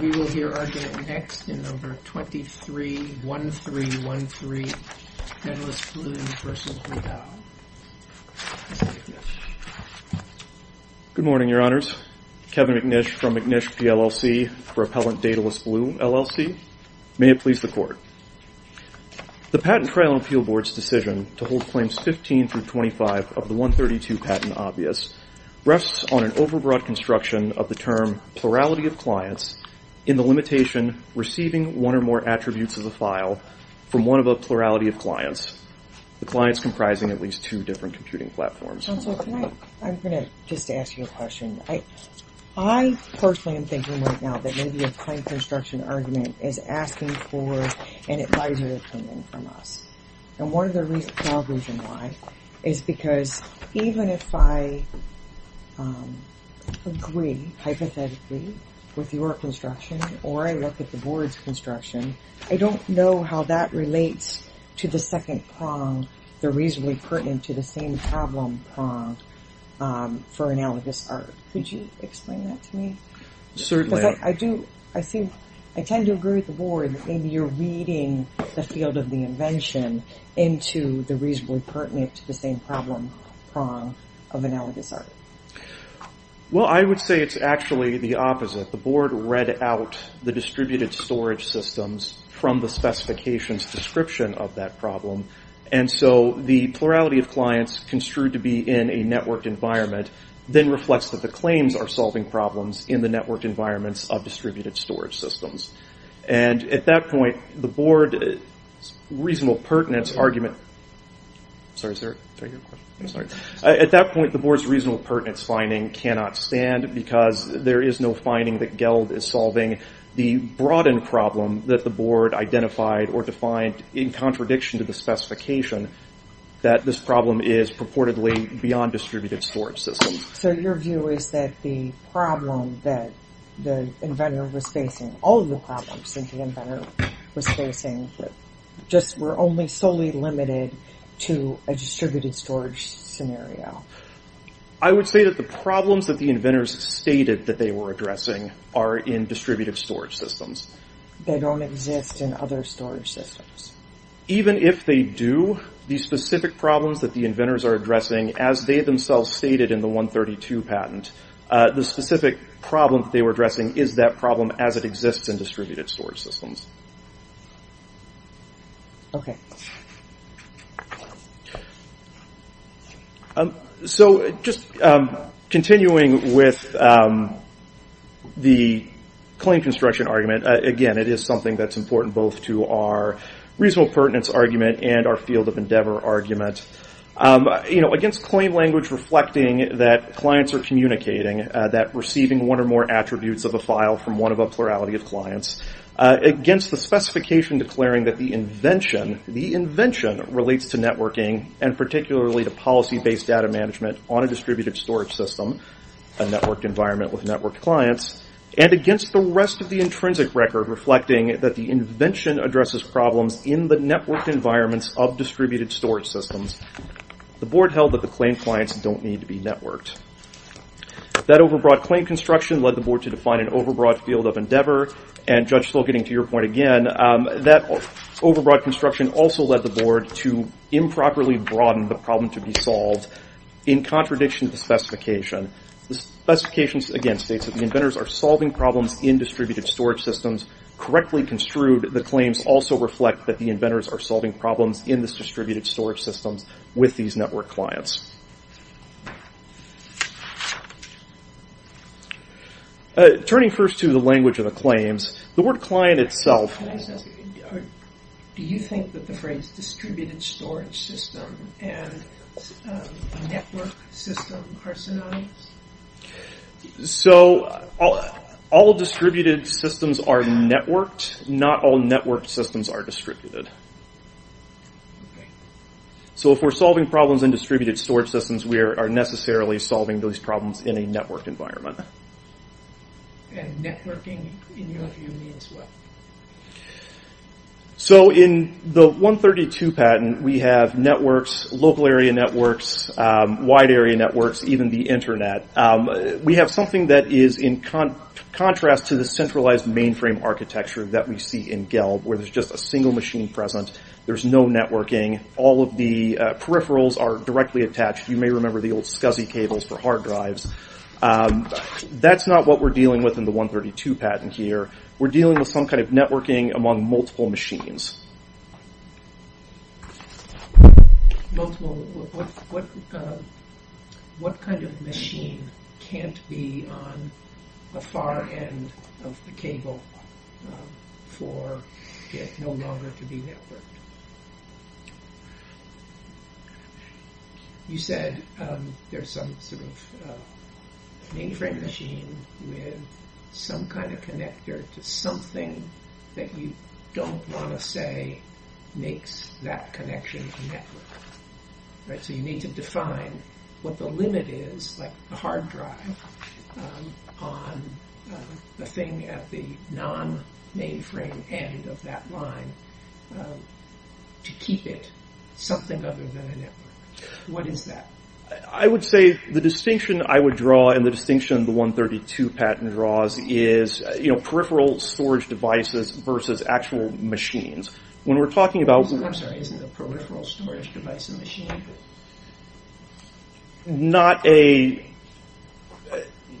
We will hear our date next in number 231313 Daedalus Blue v. Vidal. Good morning, your honors. Kevin McNish from McNish PLLC for Appellant Daedalus Blue LLC. May it please the court. The Patent Trial and Appeal Board's decision to hold claims 15 through 25 of the 132 patent obvious rests on an overbroad construction of the term plurality of clients in the limitation receiving one or more attributes of the file from one of a plurality of clients, the clients comprising at least two different computing platforms. Counselor, can I, I'm going to just ask you a question. I personally am thinking right now that maybe a claim construction argument is asking for an advisory opinion from us. And one of the reasons why is because even if I agree hypothetically with your construction or I look at the board's construction, I don't know how that relates to the second prong, the reasonably pertinent to the same problem prong for analogous art. Could you explain that to me? Certainly. I do, I think, I tend to agree with the board that maybe you're reading the field of the invention into the reasonably pertinent to the same problem prong of analogous art. Well, I would say it's actually the opposite. The board read out the distributed storage systems from the specifications description of that problem. And so the plurality of clients construed to be in a networked environment then reflects that the claims are solving problems in the networked environments of distributed storage systems. And at that point, the board's reasonable pertinence argument, sorry, is that your question? At that point, the board's reasonable pertinence finding cannot stand because there is no finding that GELD is solving the broadened problem that the board identified or defined in contradiction to the specification that this problem is beyond distributed storage systems. So your view is that the problem that the inventor was facing, all of the problems that the inventor was facing, just were only solely limited to a distributed storage scenario. I would say that the problems that the inventors stated that they were addressing are in distributive storage systems. They don't exist in other storage systems. Even if they do, the specific problems that the inventors are addressing, as they themselves stated in the 132 patent, the specific problem that they were addressing is that problem as it exists in distributed storage systems. Okay. So just continuing with the claim construction argument, again, it is something that's important both to our reasonable pertinence argument and our field of endeavor argument. You know, against claim language reflecting that clients are communicating, that receiving one or more attributes of a file from one of a plurality of clients, against the specification declaring that the invention relates to networking and particularly to policy-based data management on a distributed storage system, a networked environment with networked clients, and against the rest of the intrinsic record reflecting that the invention addresses problems in the networked environments of distributed storage systems, the board held that the claim clients don't need to be networked. That overbroad claim construction led the board to define an overbroad field of endeavor, and Judge Steele, getting to your point again, that overbroad construction also led the board to improperly broaden the problem to be solved in contradiction to the specification. The specification, again, states that the inventors are solving problems in distributed storage systems correctly construed, the claims also reflect that the inventors are solving problems in these distributed storage systems with these network clients. Turning first to the language of the claims, the word client itself... Do you think that the phrase distributed storage system and network system are synonyms? So, all distributed systems are networked, not all networked systems are distributed. So, if we're solving problems in distributed storage systems, we are necessarily solving those problems in a networked environment. And networking, in your view, means what? So, in the 132 patent, we have networks, local area networks, wide area networks, even the internet. We have something that is in contrast to the centralized mainframe architecture that we see in GELB, where there's just a single machine present, there's no networking, all of the peripherals are directly attached, you may remember the old SCSI cables for hard drives. That's not what we're dealing with in the 132 patent here, we're dealing with some kind of networking among multiple machines. Multiple... What kind of machine can't be on a far end of the cable for it no longer to be networked? You said there's some sort of mainframe machine with some kind of connector to something that you don't want to say makes that connection a network. So, you need to define what the limit is, like the hard drive, on the thing at the non-mainframe end of that line to keep it something other than a network. What is that? I would say the distinction I would draw, and the distinction the 132 patent draws, is peripheral storage devices versus actual machines.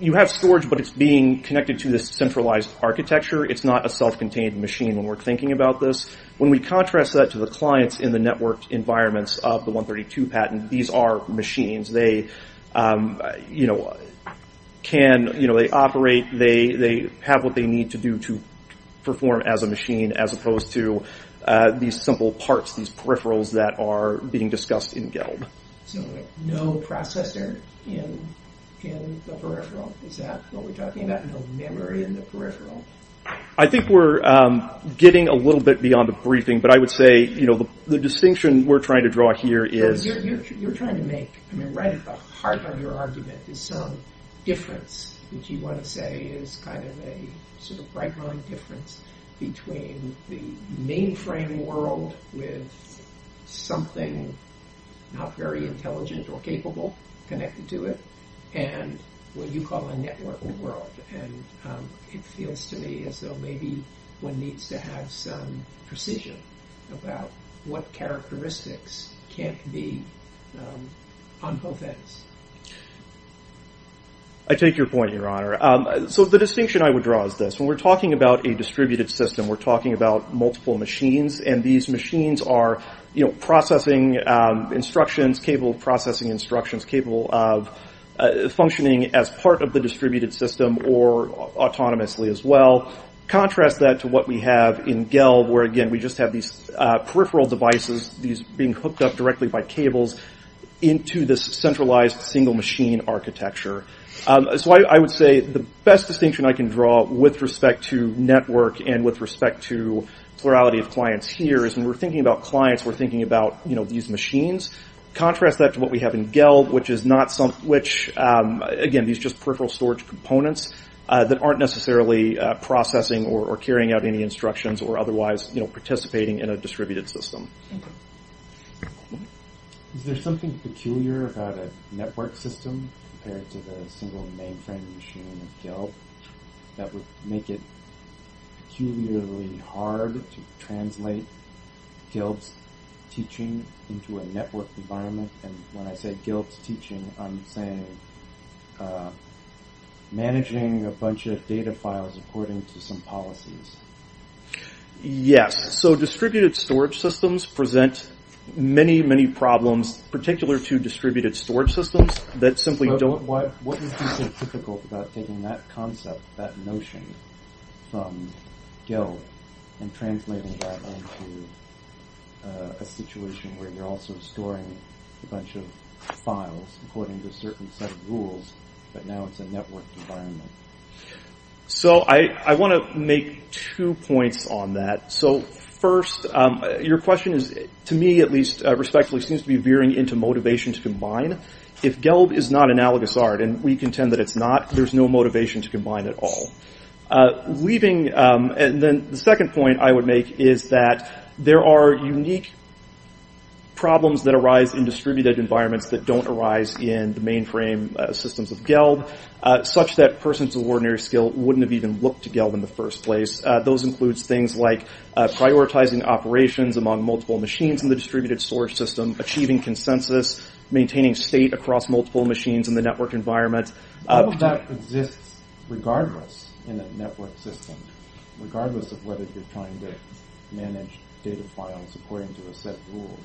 You have storage, but it's being connected to this centralized architecture, it's not a self-contained machine when we're thinking about this. When we contrast that to the clients in the network environments of the 132 patent, these are machines. They operate, they have what they need to do to perform as a machine, as opposed to these simple parts, these peripherals that are being discussed in GELD. So, no processor in the peripheral? Is that what we're talking about? No memory in the peripheral? I think we're getting a little bit beyond the briefing, but I would say the distinction we're trying to draw here is... You're trying to make, right at the heart of your argument, is some difference that you want to say is a right-line difference between the mainframe world with something not very intelligent or capable connected to it, and what you call a network world. It feels to me as though maybe one needs to have some precision about what characteristics can't be on both ends. I take your point, Your Honor. The distinction I would draw is this. When we're talking about a distributed system, we're talking about multiple machines, and these machines are processing instructions, capable of processing instructions, capable of functioning as part of the distributed system or autonomously as well. Contrast that to what we have in GELD, where, again, we just have these peripheral devices, these being hooked up directly by cables, into this centralized, single-machine architecture. So, I would say the best distinction I can draw with respect to network and with respect to plurality of clients here is when we're thinking about clients, we're thinking about these machines. Contrast that to what we have in GELD, which, again, these just peripheral storage components that aren't necessarily processing or carrying out any instructions or otherwise participating in a distributed system. Is there something peculiar about a network system compared to the single mainframe machine of GELD that would make it peculiarly hard to translate GELD's teaching into a network environment? And when I say GELD's teaching, I'm saying managing a bunch of data files according to some policies. Yes. So, distributed storage systems present many, many problems, particular to distributed storage systems that simply don't... That concept, that notion from GELD and translating that into a situation where you're also storing a bunch of files according to a certain set of rules, but now it's a network environment. So, I want to make two points on that. So, first, your question is, to me at least, respectfully, seems to be veering into motivation to combine. If GELD is not analogous art, and we contend that it's not, there's no motivation to combine at all. Leaving... And then the second point I would make is that there are unique problems that arise in distributed environments that don't arise in the mainframe systems of GELD, such that persons of ordinary skill wouldn't have even looked to GELD in the first place. Those include things like prioritizing operations among multiple machines in the distributed storage system, achieving consensus, maintaining state across multiple machines in the network environment. How would that exist regardless in a network system, regardless of whether you're trying to manage data files according to a set of rules?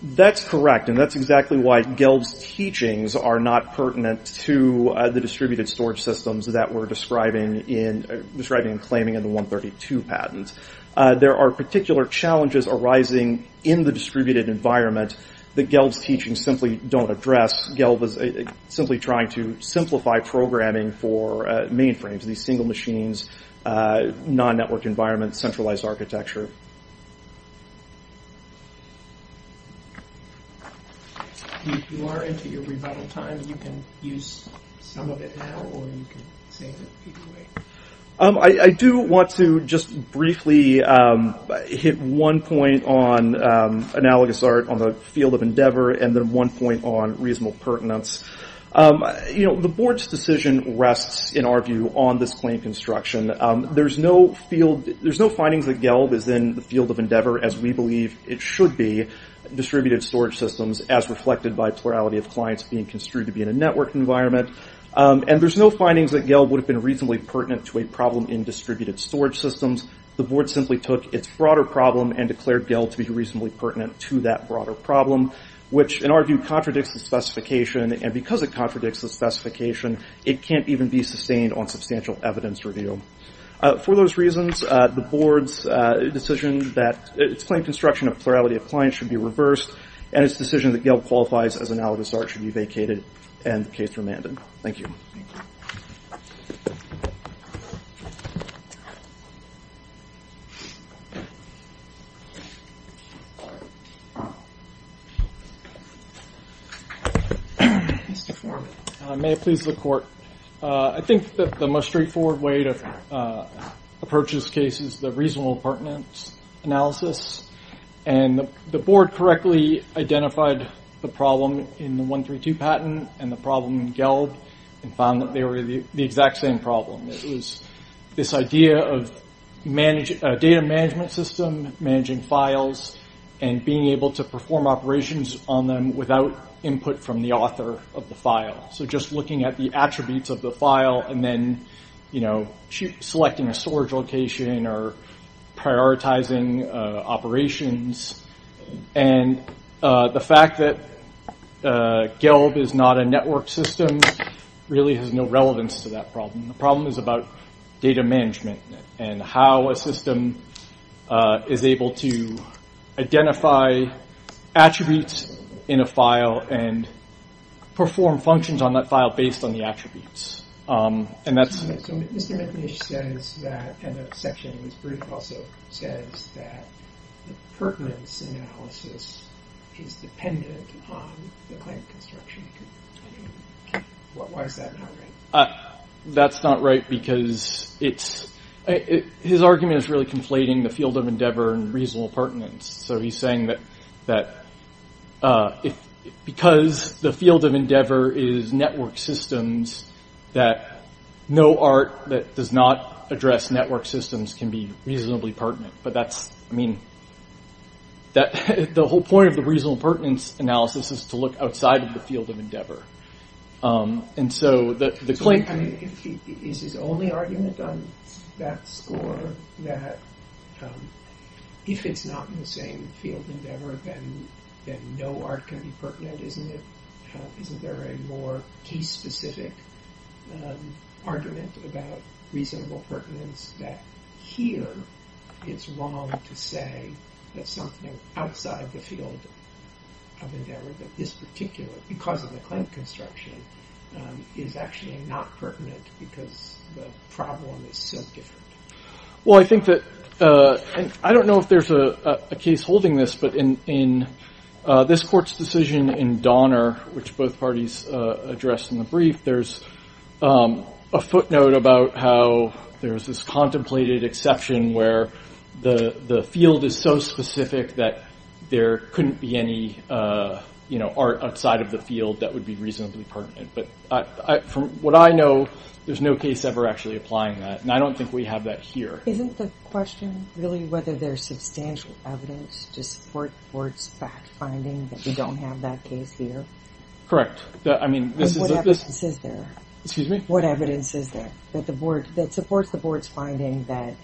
That's correct, and that's exactly why GELD's teachings are not pertinent to the distributed storage systems that we're describing in... Describing and claiming in the 132 patent. There are particular challenges arising in the distributed environment that GELD's teaching simply don't address. GELD is simply trying to simplify programming for mainframes, these single machines, non-network environments, centralized architecture. If you are into your rebuttal time, you can use some of it now, or you can save it. I do want to just briefly hit one point on analogous art on the field of endeavor, and then one point on reasonable pertinence. The board's decision rests, in our view, on this claim construction. There's no findings that GELD is in the field of endeavor, as we believe it should be, distributed storage systems, as reflected by plurality of clients being construed to be in a network environment. And there's no findings that GELD would have been reasonably pertinent to a problem in distributed storage systems. The board simply took its broader problem and declared GELD to be reasonably pertinent to that broader problem, which, in our view, contradicts the specification. And because it contradicts the specification, it can't even be sustained on substantial evidence review. For those reasons, the board's decision that its claim construction of plurality of clients should be reversed, and its decision that GELD qualifies as analogous art should be vacated, and the case remanded. Thank you. Mr. Foreman. May it please the court. I think that the most straightforward way to approach this case is the reasonable pertinence analysis. And the board correctly identified the problem in the 132 patent and the problem in GELD, and found that they were the exact same problem. It was this idea of data management system, managing files, and being able to perform operations on them without input from the author of the file. So just looking at the attributes of the file and then selecting a storage location or prioritizing operations. And the fact that GELD is not a network system really has no relevance to that problem. The problem is about data management and how a system is able to identify attributes in a file and perform functions on that file based on the attributes. So Mr. McNish says that, and the section in this brief also says that the pertinence analysis is dependent on the client construction. Why is that not right? That's not right because his argument is really conflating the field of endeavor and reasonable pertinence. So he's saying that because the field of endeavor is network systems, that no art that does not address network systems can be reasonably pertinent. But that's, I mean, the whole point of the reasonable pertinence analysis is to look outside of the field of endeavor. And so the claim... I mean, is his only argument on that score that if it's not in the same field of endeavor then no art can be pertinent? Isn't there a more case-specific argument about reasonable pertinence that here it's wrong to say that something outside the field of endeavor that this particular, because of the client construction, is actually not pertinent because the problem is so different? Well, I think that... I don't know if there's a case holding this, but in this court's decision in Donner, which both parties addressed in the brief, there's a footnote about how there's this contemplated exception where the field is so specific that there couldn't be any art outside of the field that would be reasonably pertinent. But from what I know, there's no case ever actually applying that. And I don't think we have that here. Isn't the question really whether there's substantial evidence to support the board's backfinding that we don't have that case here? Correct. I mean, this is... What evidence is there? Excuse me? What evidence is there that supports the board's finding that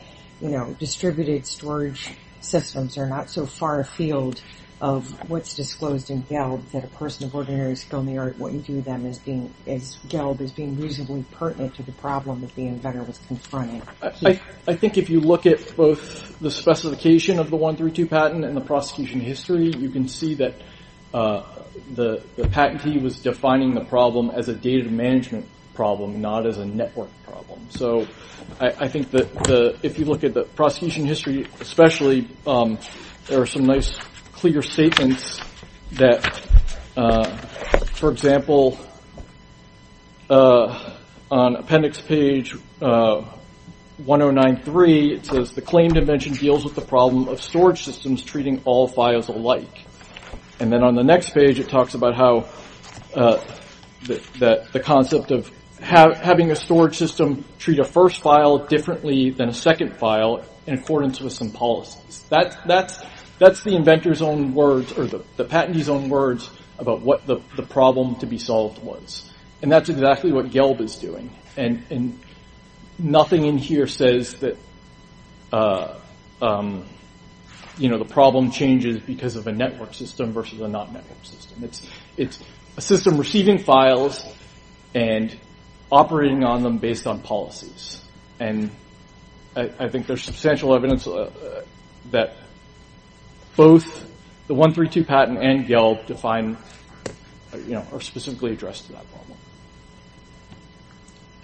distributed storage systems are not so far afield of what's disclosed in Gelb, that a person of ordinary skill in the art wouldn't view them as being, as Gelb, as being reasonably pertinent to the problem that the inventor was confronting? I think if you look at both the specification of the 132 patent and the prosecution history, you can see that the patentee was defining the problem as a data management problem, not as a network problem. So I think that if you look at the prosecution history, especially, there are some nice, clear statements that, for example, on appendix page 1093, it says, the claim dimension deals with the problem of storage systems treating all files alike. And then on the next page, it talks about how the concept of having a storage system treat a first file differently than a second file in accordance with some policies. That's the inventor's own words, or the patentee's own words, about what the problem to be solved was. And that's exactly what Gelb is doing. And nothing in here says that, you know, the problem changes because of a network system versus a non-network system. It's a system receiving files and operating on them based on policies. And I think there's substantial evidence that both the 132 patent and Gelb define, you know, are specifically addressed to that problem.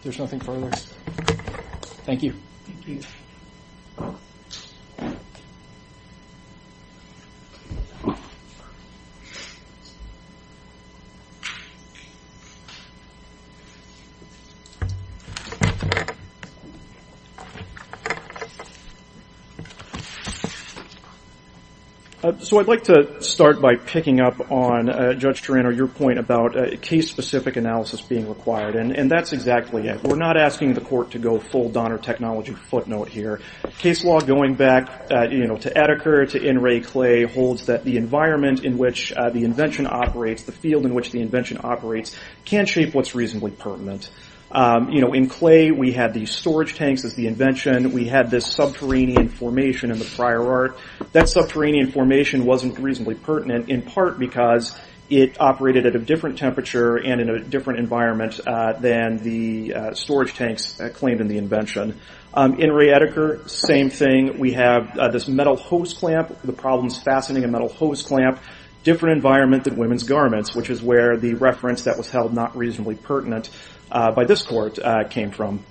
There's nothing further. Thank you. So I'd like to start by picking up on Judge Turano, your point about case-specific analysis being required. And that's exactly it. We're not asking the court to go full Donner technology footnote here. Case law, going back, you know, to Etiker, to N. Ray Clay, holds that the environment in which the invention operates, the field in which the invention operates, can shape what's reasonably pertinent. You know, in Clay, we had the storage tanks as the invention. We had this subterranean formation in the prior art. That subterranean formation wasn't reasonably pertinent, in part because it operated at a different temperature and in a different environment than the storage tanks claimed in the invention. In Ray Etiker, same thing. We have this metal hose clamp. The problem is fastening a metal hose clamp. Different environment than women's garments, which is where the reference that was held not reasonably pertinent by this court came from.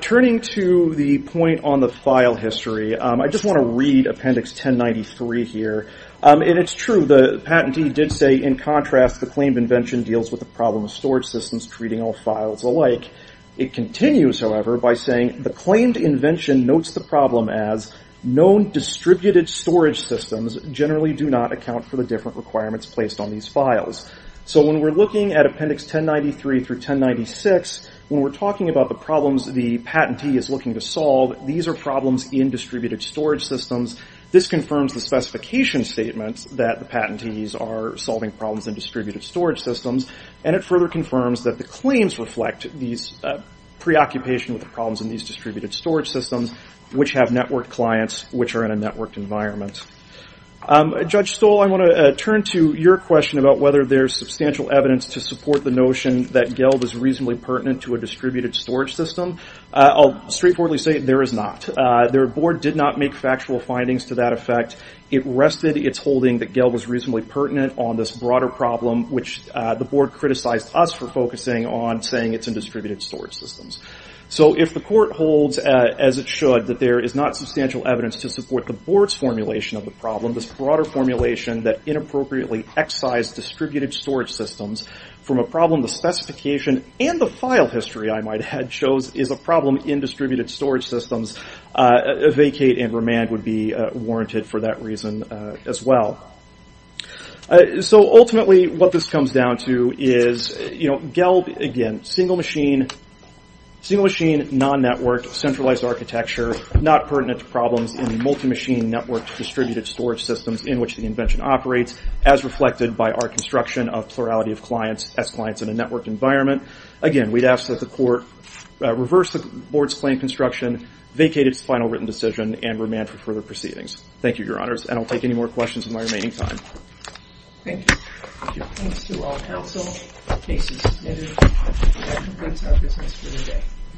Turning to the point on the file history, I just want to read Appendix 1093 here. And it's true. The patentee did say, in contrast, the claimed invention deals with the problem of storage systems treating all files alike. It continues, however, by saying, the claimed invention notes the problem as known distributed storage systems generally do not account for the different requirements placed on these files. So when we're looking at Appendix 1093 through 1096, when we're talking about the problems the patentee is looking to solve, these are problems in distributed storage systems. This confirms the specification statements that the patentees are solving problems in preoccupation with the problems in these distributed storage systems, which have networked clients, which are in a networked environment. Judge Stoll, I want to turn to your question about whether there's substantial evidence to support the notion that GELD is reasonably pertinent to a distributed storage system. I'll straightforwardly say there is not. Their board did not make factual findings to that effect. It rested its holding that GELD was reasonably pertinent on this broader problem, which the storage systems. So if the court holds, as it should, that there is not substantial evidence to support the board's formulation of the problem, this broader formulation that inappropriately excised distributed storage systems from a problem the specification and the file history I might have chose is a problem in distributed storage systems, vacate and remand would be warranted for that reason as well. So ultimately, what this comes down to is GELD, again, single machine, non-networked centralized architecture, not pertinent to problems in multi-machine networked distributed storage systems in which the invention operates, as reflected by our construction of plurality of clients, as clients in a networked environment. Again, we'd ask that the court reverse the board's claim construction, vacate its final written decision, and remand for further proceedings. Thank you, Your Honors. I don't take any more questions in my remaining time. Thank you. I give thanks to all counsel, cases submitted, and I condense our business for the day.